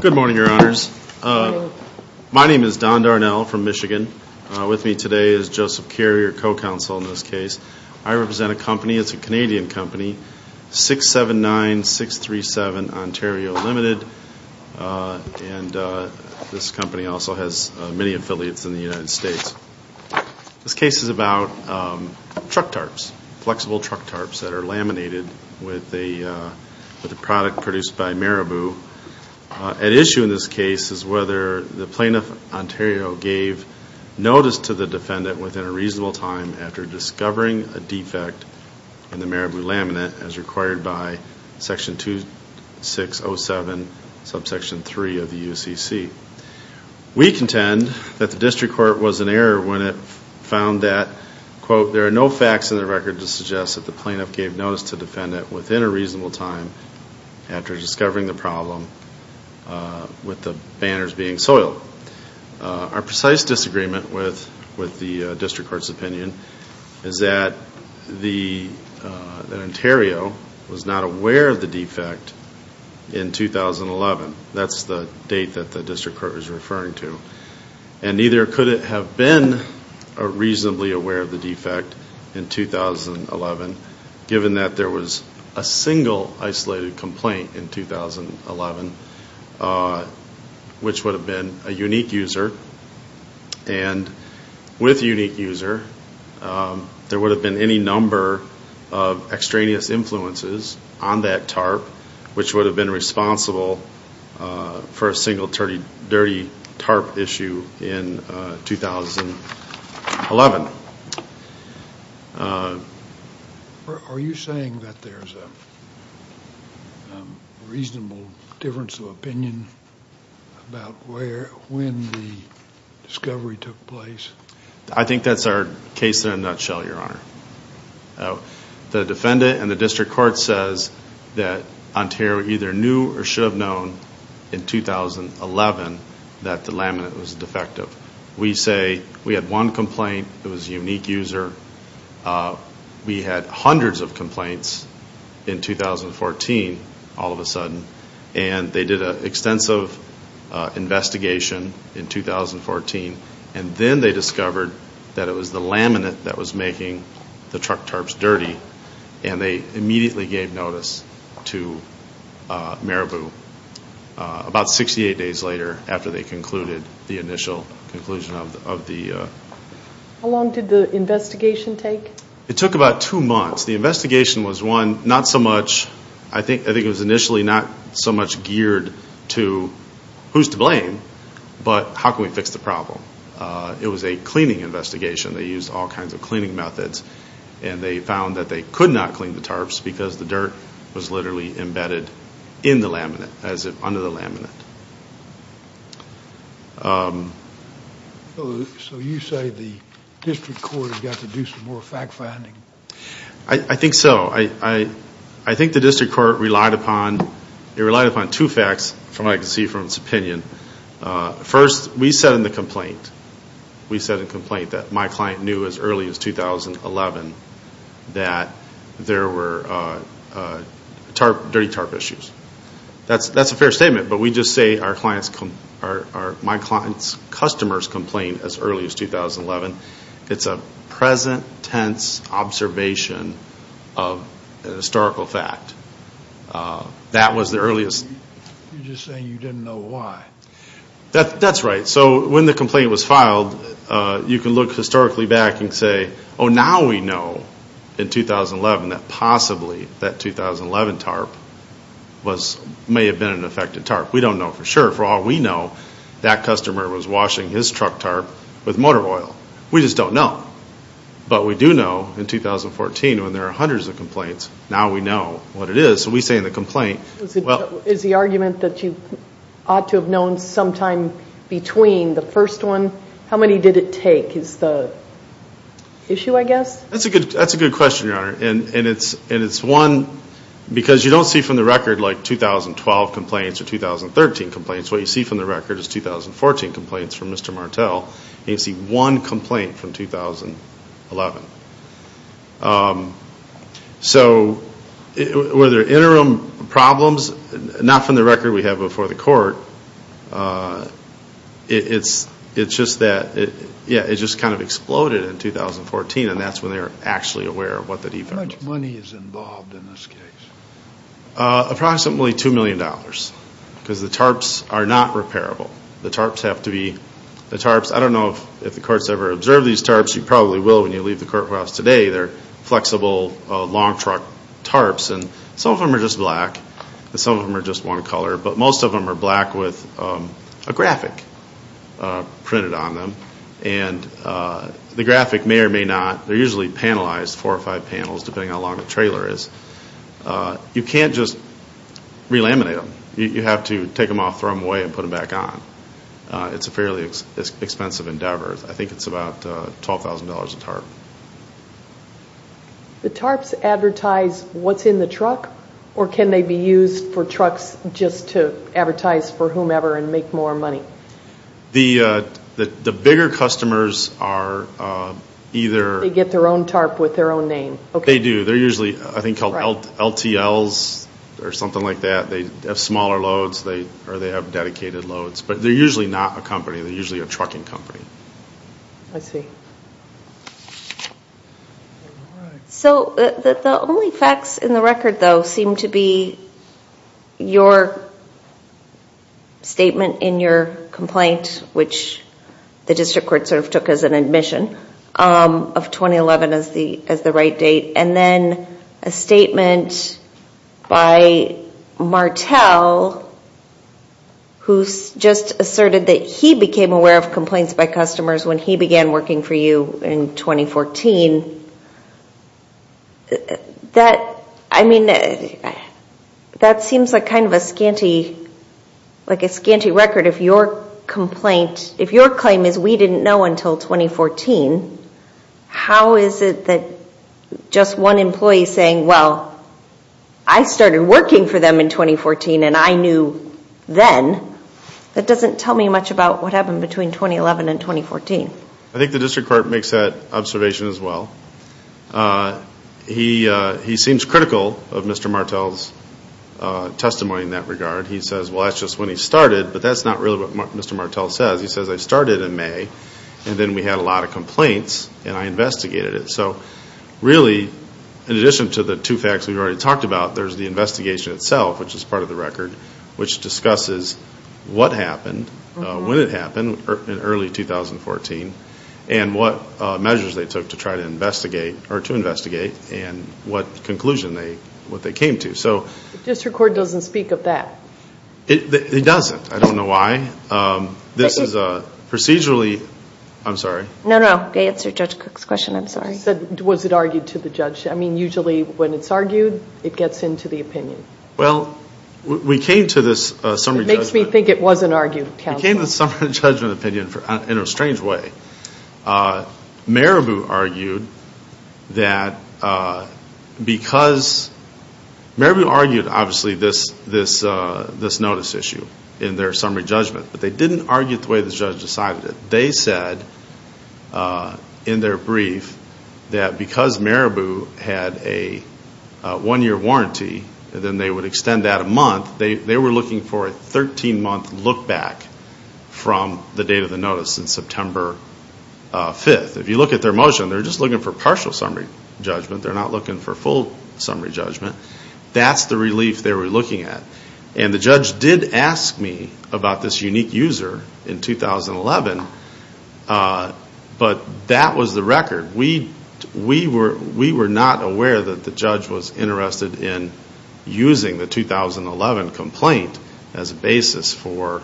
Good morning Your Honours. My name is Don Darnell from Michigan. With me today is Joseph Carey, our co-counsel in this case. I represent a company, it's a Canadian company, 679637 Ontario Ltd, and this company also has many affiliates in the United States. This case is about truck tarps, flexible truck tarps that are laminated with a product produced by Marabu. At issue in this case is whether the Plaintiff Ontario gave notice to the defendant within a reasonable time after discovering a defect in the Marabu laminate as required by Section 2607, Subsection 3 of the UCC. We contend that the District Court was in error when it found that, quote, there are no facts in the record to suggest that the plaintiff gave notice to the defendant within a reasonable time after discovering the problem with the banners being soiled. Our precise disagreement with the District Court's opinion is that Ontario was not aware of the defect in 2011, that's the date that the District Court was referring to, and neither could it have been reasonably aware of the defect in 2011, given that there was a single isolated complaint in 2011, which would have been a unique user, and with unique user, there would have been any number of extraneous influences on that tarp, which would have been responsible for a single dirty tarp issue in 2011. Are you saying that there's a reasonable difference of opinion about when the discovery took place? I think that's our case in a nutshell, Your Honor. The defendant and the District Court says that Ontario either knew or should have known in 2011 that the laminate was defective. We say we had one complaint, it was a unique user, we had hundreds of complaints in 2014, all of a sudden, and they did an extensive investigation in 2014, and then they discovered that it was the laminate that was making the truck tarps dirty, and they immediately gave notice to Marabu about 68 days later, after they concluded the initial conclusion of the... How long did the investigation take? It took about two months. The investigation was, one, not so much, I think it was initially not so much geared to who's to blame, but how can we fix the problem? It was a cleaning investigation, they used all kinds of cleaning methods, and they found that they could not clean the tarps because the dirt was literally embedded in the laminate, as if under the laminate. So you say the District Court has got to do some more fact-finding? I think so. I think the District Court relied upon two facts, from what I can see from its opinion. First, we said in the complaint, we said in the complaint that my client knew as early as 2011 that there were dirty tarp issues. That's a fair statement, but we just say my client's customers complained as early as 2011. It's a present tense observation of a historical fact. That was the earliest... You're just saying you didn't know why. That's right. So when the complaint was filed, you can look historically back and say, oh, now we know in 2011 that possibly that 2011 tarp may have been an affected tarp. We don't know for sure. For all we know, that customer was washing his truck tarp with motor oil. We just don't know. But we do know in 2014, when there are hundreds of complaints, now we know what it is. So we say in the complaint... Is the argument that you ought to have known sometime between the first one? How many did it take is the issue, I guess? That's a good question, Your Honor. Because you don't see from the record 2012 complaints or 2013 complaints. What you see from the record is 2014 complaints from Mr. Martel, and you see one complaint from 2011. So, were there interim problems? Not from the record we have before the court. It's just that... Yeah, it just kind of exploded in 2014, and that's when they were actually aware of what the defense... How much money is involved in this case? Approximately $2 million. Because the tarps are not repairable. The tarps have to be... The tarps... I don't know if the courts ever observed these tarps. Of course you probably will when you leave the courthouse today. They're flexible, long truck tarps, and some of them are just black, and some of them are just one color. But most of them are black with a graphic printed on them, and the graphic may or may not... They're usually panelized, four or five panels, depending on how long the trailer is. You can't just re-laminate them. You have to take them off, throw them away, and put them back on. It's a fairly expensive endeavor. I think it's about $12,000 a tarp. The tarps advertise what's in the truck, or can they be used for trucks just to advertise for whomever and make more money? The bigger customers are either... They get their own tarp with their own name. They do. They're usually, I think, called LTLs or something like that. They have smaller loads, or they have dedicated loads. But they're usually not a company. They're usually a trucking company. I see. So the only facts in the record, though, seem to be your statement in your complaint, which the district court sort of took as an admission of 2011 as the right date, and then a statement by Martel, who just asserted that he became aware of complaints by customers when he began working for you in 2014. That seems like kind of a scanty record if your claim is we didn't know until 2014. How is it that just one employee saying, well, I started working for them in 2014, and I knew then, that doesn't tell me much about what happened between 2011 and 2014. I think the district court makes that observation as well. He seems critical of Mr. Martel's testimony in that regard. He says, well, that's just when he started, but that's not really what Mr. Martel says. He says, I started in May, and then we had a lot of complaints, and I investigated it. So really, in addition to the two facts we've already talked about, there's the investigation itself, which is part of the record, which discusses what happened, when it happened in early 2014, and what measures they took to try to investigate, or to investigate, and what conclusion they came to. So the district court doesn't speak of that. It doesn't. I don't know why. This is procedurally, I'm sorry. No, no. Answer Judge Cook's question. I'm sorry. Was it argued to the judge? I mean, usually, when it's argued, it gets into the opinion. Well, we came to this summary judgment. It makes me think it wasn't argued. We came to the summary judgment opinion in a strange way. Marabu argued that because, Marabu argued, obviously, this notice issue in their summary judgment, but they didn't argue it the way the judge decided it. They said, in their brief, that because Marabu had a one-year warranty, and then they would extend that a month, they were looking for a 13-month look back from the date of the notice in September 5th. If you look at their motion, they're just looking for partial summary judgment. They're not looking for full summary judgment. That's the relief they were looking at. The judge did ask me about this unique user in 2011, but that was the record. We were not aware that the judge was interested in using the 2011 complaint as a basis for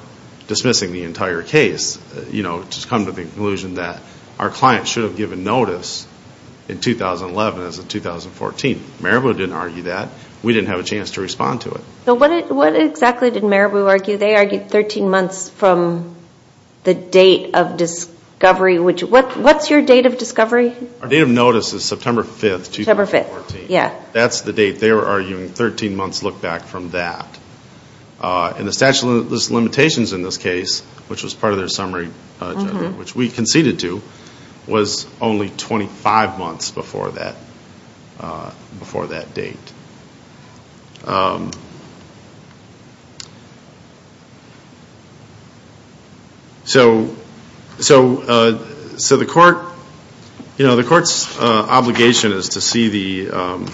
dismissing the entire case, to come to the conclusion that our client should have given notice in 2011 as of 2014. Marabu didn't argue that. We didn't have a chance to respond to it. What exactly did Marabu argue? They argued 13 months from the date of discovery. What's your date of discovery? Our date of notice is September 5th, 2014. That's the date they were arguing, 13 months look back from that. The statute of limitations in this case, which was part of their summary judgment, which we conceded to, was only 25 months before that date. The court's obligation is to see the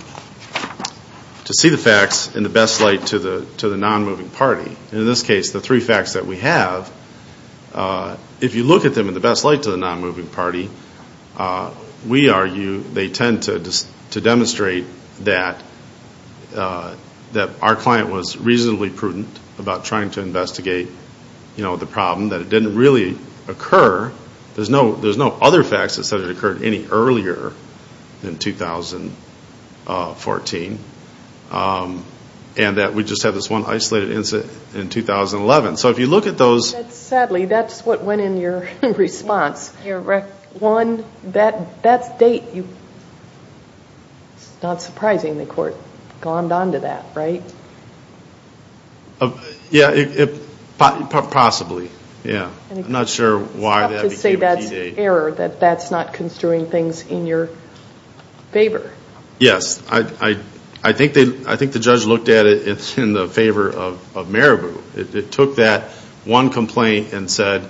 facts in the best light to the non-moving party. In this case, the three facts that we have, if you look at them in the best light to the non-moving party, we argue they tend to demonstrate that our client was reasonably prudent about trying to investigate the problem, that it didn't really occur, there's no other facts that said it occurred any earlier than 2014, and that we just had this one isolated incident in 2011. Sadly, that's what went in your response, one, that date, it's not surprising the court glommed on to that, right? Yeah, possibly, yeah, I'm not sure why that became a key date. I think the judge looked at it in the favor of Marabu, it took that one complaint and said,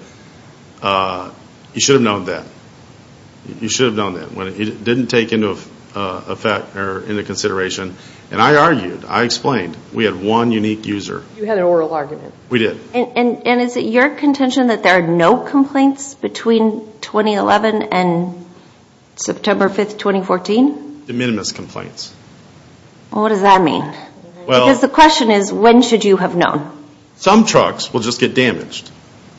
you should have known that, you should have known that, it didn't take into consideration, and I argued, I explained, we had one unique user. You had an oral argument. We did. And is it your contention that there are no complaints between 2011 and September 5th, 2014? De minimis complaints. Well, what does that mean? Because the question is, when should you have known? Some trucks will just get damaged.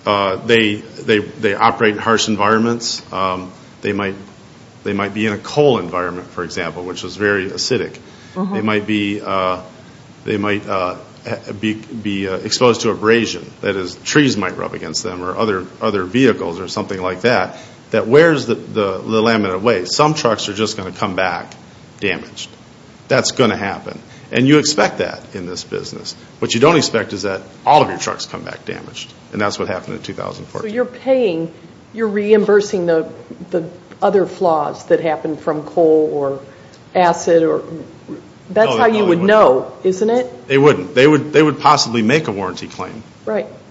They operate in harsh environments, they might be in a coal environment, for example, which was very acidic, they might be exposed to abrasion, that is, trees might rub against them or other vehicles or something like that, that wears the laminate away. Some trucks are just going to come back damaged. That's going to happen, and you expect that in this business. What you don't expect is that all of your trucks come back damaged, and that's what happened in 2014. So you're paying, you're reimbursing the other flaws that happened from coal or acid or... No, they wouldn't. That's how you would know, isn't it? They wouldn't. They would possibly make a warranty claim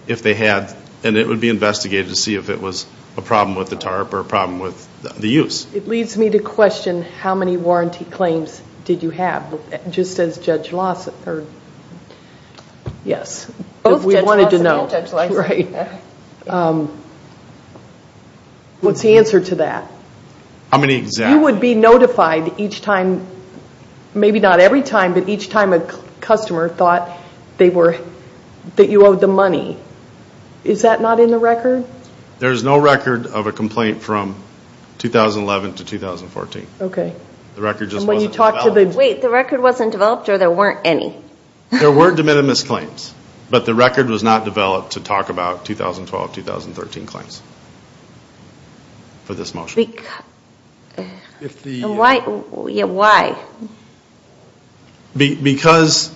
if they had, and it would be investigated to see if it was a problem with the tarp or a problem with the use. It leads me to question, how many warranty claims did you have, just as Judge Lawson heard? Yes. Both Judge Lawson and Judge Larson. Right. What's the answer to that? How many exactly? You would be notified each time, maybe not every time, but each time a customer thought they were, that you owed them money. Is that not in the record? There's no record of a complaint from 2011 to 2014. Okay. The record just wasn't developed. And when you talk to the... Wait, the record wasn't developed or there weren't any? There were de minimis claims, but the record was not developed to talk about 2012-2013 claims for this motion. Why? Yeah, why? Because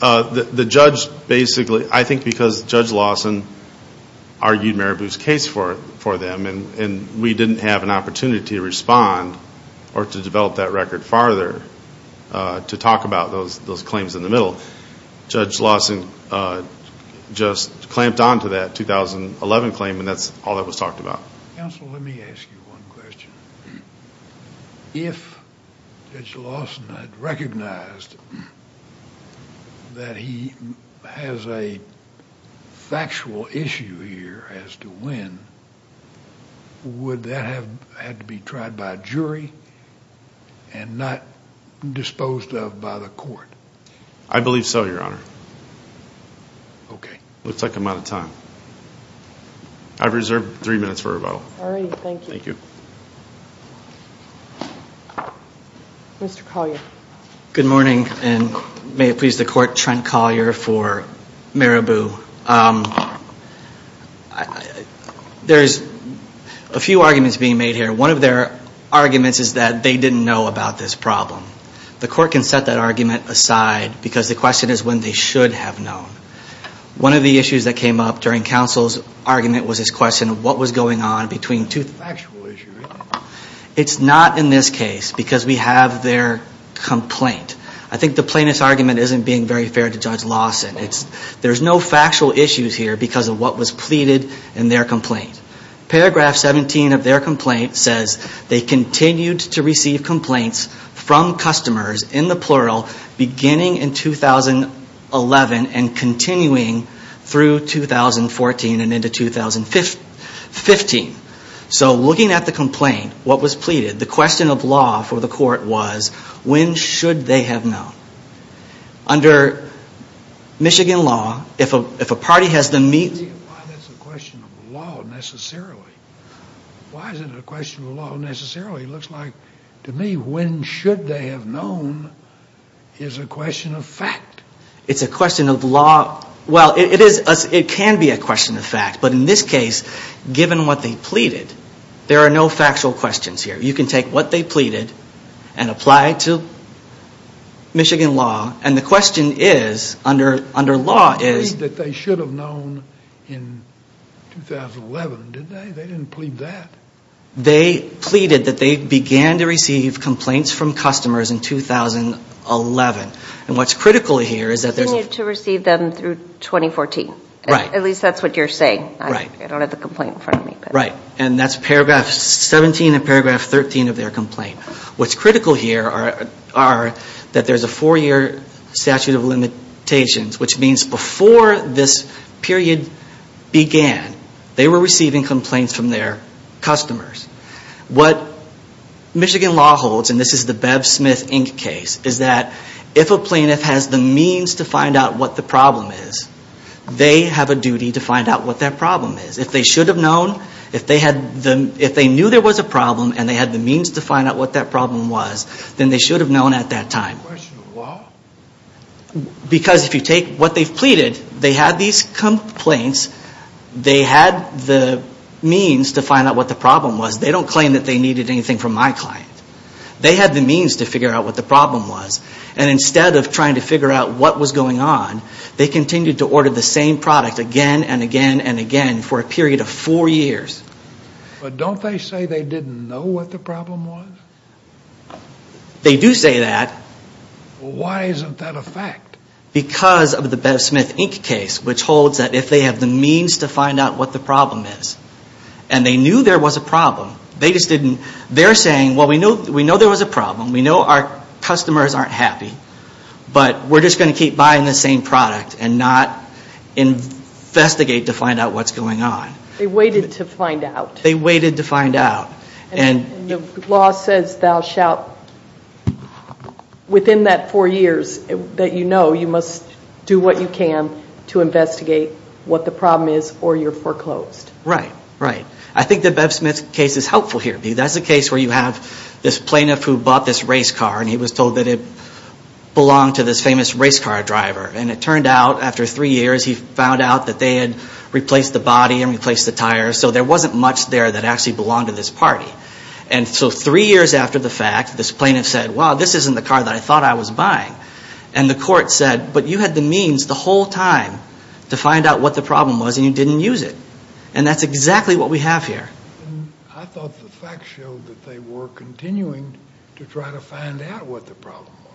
the judge basically, I think because Judge Lawson argued Marabu's case for them and we didn't have an opportunity to respond or to develop that record farther to talk about those claims in the middle. Judge Lawson just clamped onto that 2011 claim and that's all that was talked about. Counsel, let me ask you one question. If Judge Lawson had recognized that he has a factual issue here as to when, would that have had to be tried by a jury and not disposed of by the court? I believe so, Your Honor. Okay. Looks like I'm out of time. I've reserved three minutes for rebuttal. All right. Thank you. Thank you. Mr. Collier. Good morning and may it please the court, Trent Collier for Marabu. There's a few arguments being made here. One of their arguments is that they didn't know about this problem. The court can set that argument aside because the question is when they should have known. One of the issues that came up during counsel's argument was this question of what was going on between two factual issues. It's not in this case because we have their complaint. I think the plaintiff's argument isn't being very fair to Judge Lawson. There's no factual issues here because of what was pleaded in their complaint. Paragraph 17 of their complaint says they continued to receive complaints from customers, in the plural, beginning in 2011 and continuing through 2014 and into 2015. So looking at the complaint, what was pleaded, the question of law for the court was when should they have known? Under Michigan law, if a party has them meet... Why is it a question of law necessarily? It looks like, to me, when should they have known is a question of fact. It's a question of law, well it can be a question of fact, but in this case, given what they pleaded, there are no factual questions here. You can take what they pleaded and apply it to Michigan law, and the question is, under law, is... They didn't plead that they should have known in 2011, did they? They didn't plead that. They pleaded that they began to receive complaints from customers in 2011. What's critical here is that... They continued to receive them through 2014. At least that's what you're saying. I don't have the complaint in front of me. Right, and that's paragraph 17 and paragraph 13 of their complaint. What's critical here are that there's a four-year statute of limitations, which means before this period began, they were receiving complaints from their customers. What Michigan law holds, and this is the Bev Smith Inc. case, is that if a plaintiff has the means to find out what the problem is, they have a duty to find out what that problem is. If they should have known, if they knew there was a problem and they had the means to find out what that problem was, then they should have known at that time. Question of what? Because if you take what they've pleaded, they had these complaints, they had the means to find out what the problem was. They don't claim that they needed anything from my client. They had the means to figure out what the problem was, and instead of trying to figure out what was going on, they continued to order the same product again and again and again for a period of four years. But don't they say they didn't know what the problem was? They do say that. Why isn't that a fact? Because of the Bev Smith Inc. case, which holds that if they have the means to find out what the problem is, and they knew there was a problem, they just didn't, they're saying, well, we know there was a problem, we know our customers aren't happy, but we're just going to keep buying the same product and not investigate to find out what's going on. They waited to find out. They waited to find out. And the law says thou shalt, within that four years that you know, you must do what you can to investigate what the problem is or you're foreclosed. Right, right. I think that Bev Smith's case is helpful here. That's a case where you have this plaintiff who bought this race car, and he was told that it belonged to this famous race car driver. And it turned out, after three years, he found out that they had replaced the body and replaced the tires, so there wasn't much there that actually belonged to this party. And so three years after the fact, this plaintiff said, well, this isn't the car that I thought I was buying. And the court said, but you had the means the whole time to find out what the problem was, and you didn't use it. And that's exactly what we have here. I thought the facts showed that they were continuing to try to find out what the problem was.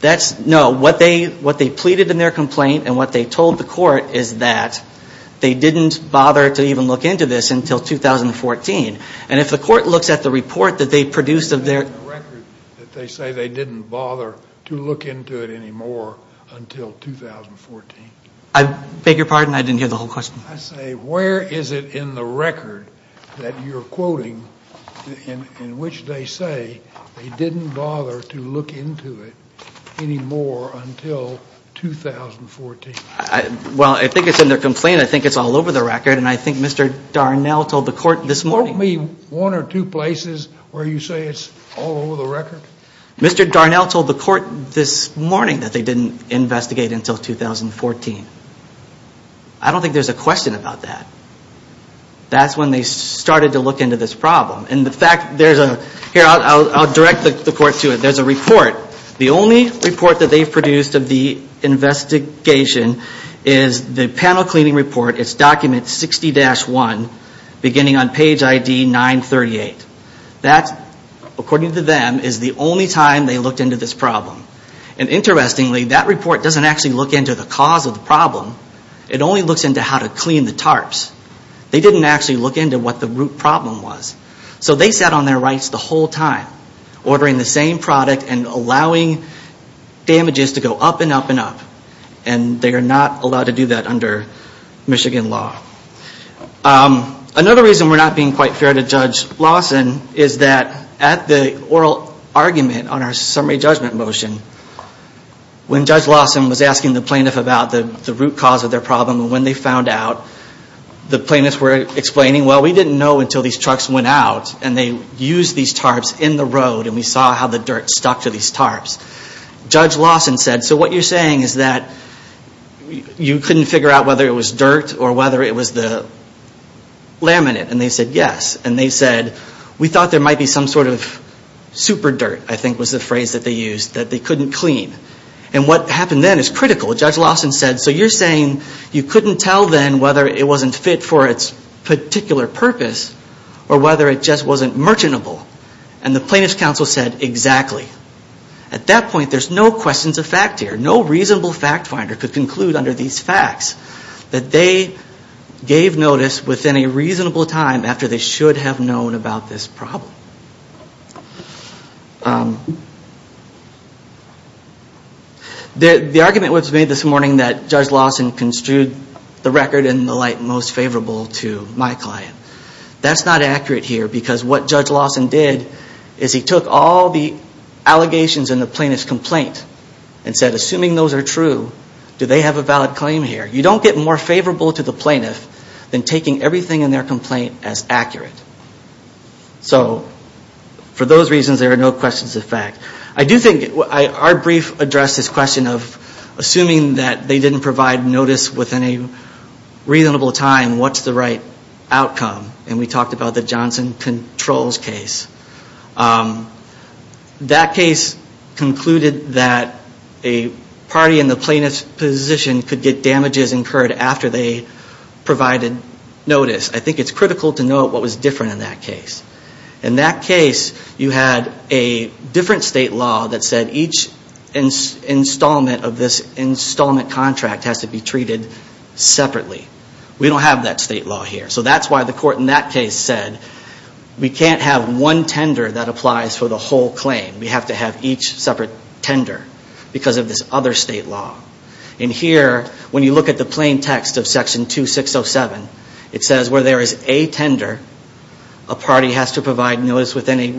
That's, no. What they pleaded in their complaint and what they told the court is that they didn't bother to even look into this until 2014. And if the court looks at the report that they produced of their Where is it in the record that they say they didn't bother to look into it anymore until 2014? I beg your pardon, I didn't hear the whole question. I say, where is it in the record that you're quoting in which they say they didn't bother to look into it anymore until 2014? Well, I think it's in their complaint. I think it's all over the record. And I think Mr. Darnell told the court this morning Quote me one or two places where you say it's all over the record. Mr. Darnell told the court this morning that they didn't investigate until 2014. I don't think there's a question about that. That's when they started to look into this problem. And the fact, there's a, here I'll direct the court to it. There's a report. The only report that they've produced of the investigation is the panel cleaning report. It's document 60-1 beginning on page ID 938. That, according to them, is the only time they looked into this problem. And interestingly, that report doesn't actually look into the cause of the problem. It only looks into how to clean the tarps. They didn't actually look into what the root problem was. So they sat on their rights the whole time, ordering the same product and allowing damages to go up and up and up. And they are not allowed to do that under Michigan law. Another reason we're not being quite fair to Judge Lawson is that at the oral argument on our summary judgment motion, when Judge Lawson was asking the plaintiff about the root cause of their problem and when they found out, the plaintiffs were explaining, well, we didn't know until these trucks went out and they used these tarps in the road and we saw how the dirt stuck to these tarps. Judge Lawson said, so what you're saying is that you couldn't figure out whether it was dirt or whether it was the laminate. And they said yes. And they said, we thought there might be some sort of super dirt, I think was the phrase that they used, that they couldn't clean. And what happened then is critical. Judge Lawson said, so you're saying you couldn't tell then whether it wasn't fit for its particular purpose or whether it just wasn't merchantable. And the plaintiff's counsel said, exactly. At that point, there's no questions of fact here. No reasonable fact finder could conclude under these facts that they gave notice within a reasonable time after they should have known about this problem. The argument was made this morning that Judge Lawson construed the record in the light most favorable to my client. That's not accurate here because what Judge Lawson did is he took all the allegations in the plaintiff's complaint and said, assuming those are true, do they have a valid claim here? You don't get more favorable to the plaintiff than taking everything in their complaint as accurate. So for those reasons, there are no questions of fact. I do think our brief addressed this question of assuming that they didn't provide notice within a reasonable time, what's the right outcome? And we talked about the Johnson Controls case. That case concluded that a party in the plaintiff's position could get damages incurred after they provided notice. I think it's critical to note what was different in that case. In that case, you had a different state law that said each installment of this installment contract has to be treated separately. We don't have that state law here. So that's why the court in that case said we can't have one tender that applies for the whole claim. We have to have each separate tender because of this other state law. And here, when you look at the plain text of Section 2607, it says where there is a tender, a party has to provide notice within a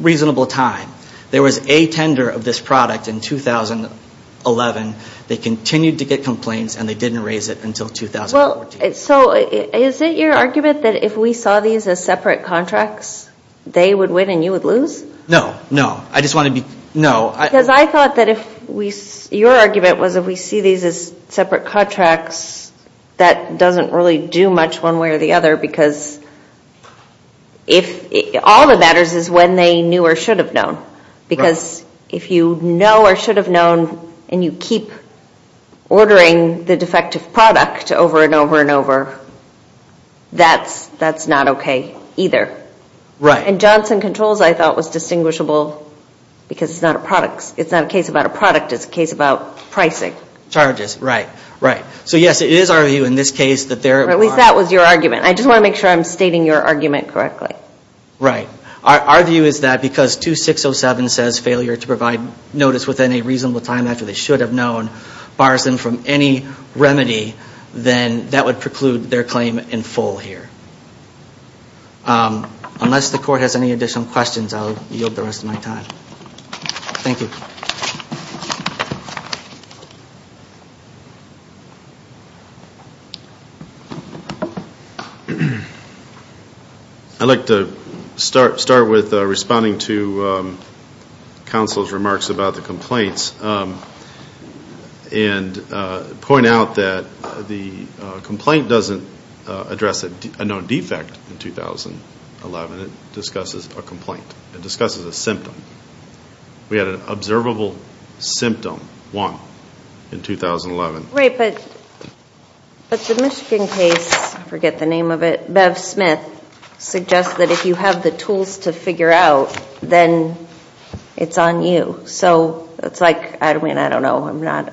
reasonable time. There was a tender of this product in 2011. They continued to get complaints, and they didn't raise it until 2014. So is it your argument that if we saw these as separate contracts, they would win and you would lose? No, no. I just want to be – no. Because I thought that if we – your argument was if we see these as separate contracts, that doesn't really do much one way or the other because if – all that matters is when they knew or should have known. Because if you know or should have known and you keep ordering the defective product over and over and over, that's not okay either. Right. And Johnson Controls, I thought, was distinguishable because it's not a product. It's not a case about a product. It's a case about pricing. Charges, right, right. So yes, it is our view in this case that there are – At least that was your argument. I just want to make sure I'm stating your argument correctly. Right. Our view is that because 2607 says failure to provide notice within a reasonable time after they should have known bars them from any remedy, then that would preclude their claim in full here. Unless the court has any additional questions, I'll yield the rest of my time. Thank you. Thank you. I'd like to start with responding to counsel's remarks about the complaints and point out that the complaint doesn't address a known defect in 2011. It discusses a complaint. It discusses a symptom. We had an observable symptom, one, in 2011. Right, but the Michigan case, I forget the name of it, Bev Smith, suggests that if you have the tools to figure out, then it's on you. So it's like, I mean, I don't know.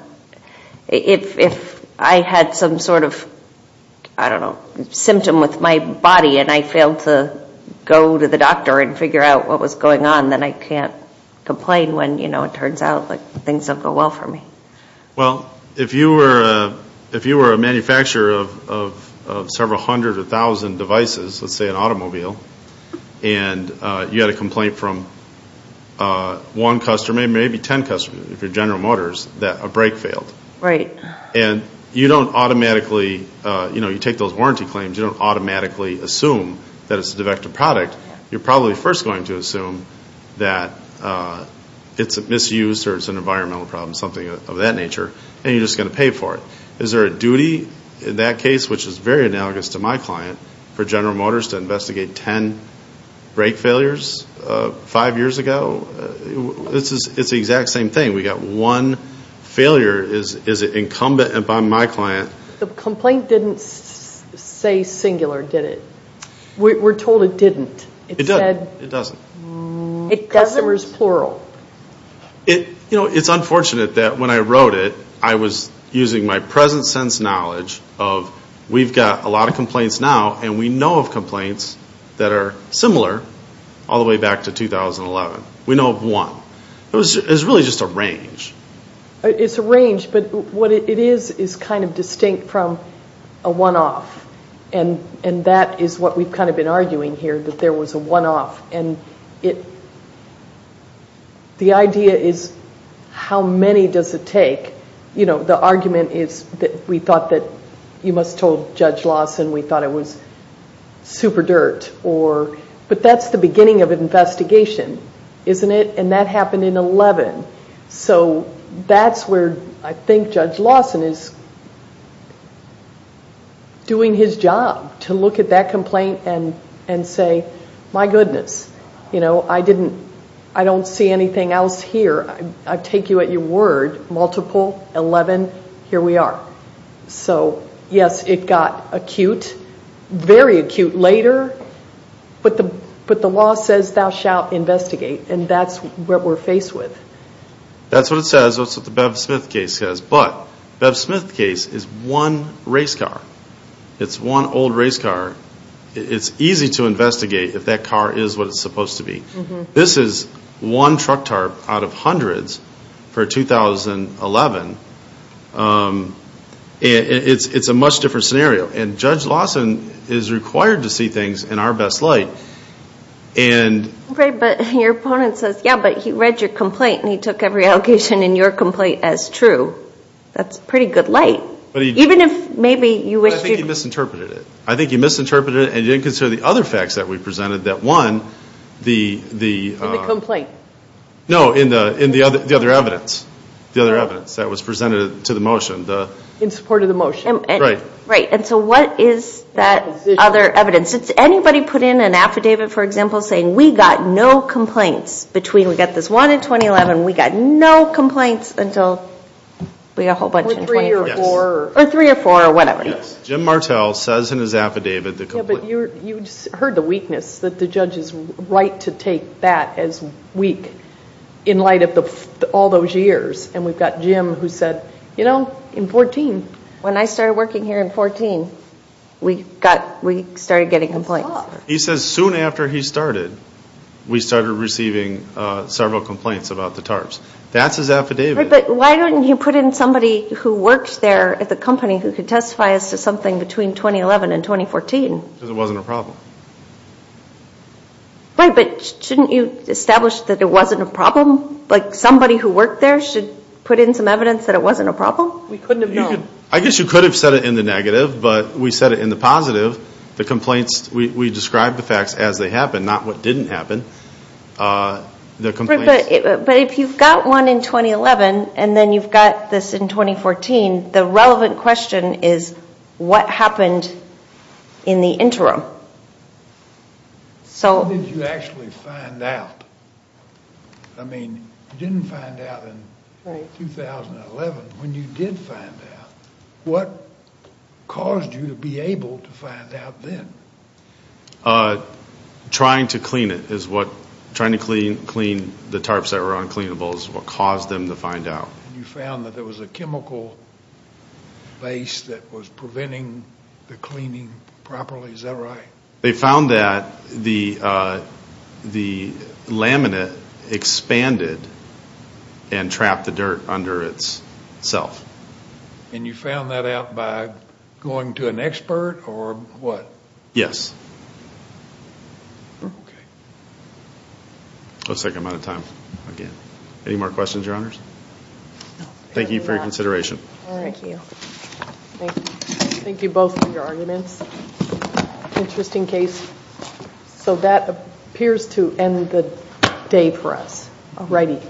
If I had some sort of, I don't know, symptom with my body and I failed to go to the doctor and figure out what was going on, then I can't complain when, you know, it turns out things don't go well for me. Well, if you were a manufacturer of several hundred or thousand devices, let's say an automobile, and you had a complaint from one customer, maybe ten customers, if you're General Motors, that a brake failed. Right. And you don't automatically, you know, you take those warranty claims, you don't automatically assume that it's a defective product. You're probably first going to assume that it's misused or it's an environmental problem, something of that nature, and you're just going to pay for it. Is there a duty in that case, which is very analogous to my client, for General Motors to investigate ten brake failures five years ago? It's the exact same thing. We've got one failure is incumbent upon my client. The complaint didn't say singular, did it? We're told it didn't. It doesn't. It said customers plural. You know, it's unfortunate that when I wrote it, I was using my present sense knowledge of we've got a lot of complaints now and we know of complaints that are similar all the way back to 2011. We know of one. It was really just a range. It's a range, but what it is is kind of distinct from a one-off, and that is what we've kind of been arguing here, that there was a one-off. The idea is how many does it take? You know, the argument is that we thought that you must have told Judge Lawson we thought it was super dirt, but that's the beginning of an investigation, isn't it? And that happened in 2011. So that's where I think Judge Lawson is doing his job, to look at that complaint and say, my goodness, you know, I don't see anything else here. I take you at your word, multiple, 11, here we are. So, yes, it got acute, very acute later, but the law says thou shalt investigate, and that's what we're faced with. That's what it says. That's what the Bev Smith case says. But the Bev Smith case is one race car. It's one old race car. It's easy to investigate if that car is what it's supposed to be. This is one truck tarp out of hundreds for 2011. It's a much different scenario, and Judge Lawson is required to see things in our best light. But your opponent says, yeah, but he read your complaint and he took every allocation in your complaint as true. That's pretty good light. Even if maybe you wish to. I think he misinterpreted it. I think he misinterpreted it and didn't consider the other facts that we presented, that one, the... In the complaint. No, in the other evidence, the other evidence that was presented to the motion. In support of the motion. Right. And so what is that other evidence? It's anybody put in an affidavit, for example, saying we got no complaints between, we got this one in 2011, we got no complaints until we got a whole bunch in 2014. Or three or four. Or three or four, or whatever. Jim Martell says in his affidavit... Yeah, but you heard the weakness, that the judge is right to take that as weak in light of all those years. And we've got Jim who said, you know, in 2014. When I started working here in 2014, we started getting complaints. He says soon after he started, we started receiving several complaints about the tarps. That's his affidavit. Right, but why don't you put in somebody who works there at the company who could testify as to something between 2011 and 2014? Because it wasn't a problem. Right, but shouldn't you establish that it wasn't a problem? Like somebody who worked there should put in some evidence that it wasn't a problem? We couldn't have known. I guess you could have said it in the negative, but we said it in the positive. The complaints, we described the facts as they happened, not what didn't happen. But if you've got one in 2011 and then you've got this in 2014, the relevant question is what happened in the interim? How did you actually find out? I mean, you didn't find out in 2011. When you did find out, what caused you to be able to find out then? Trying to clean it is what, trying to clean the tarps that were uncleanable is what caused them to find out. You found that there was a chemical base that was preventing the cleaning properly. Is that right? They found that the laminate expanded and trapped the dirt under itself. And you found that out by going to an expert or what? Yes. Looks like I'm out of time. Any more questions, Your Honors? Thank you for your consideration. Thank you. Thank you both for your arguments. Interesting case. So that appears to end the day for us. Alrighty.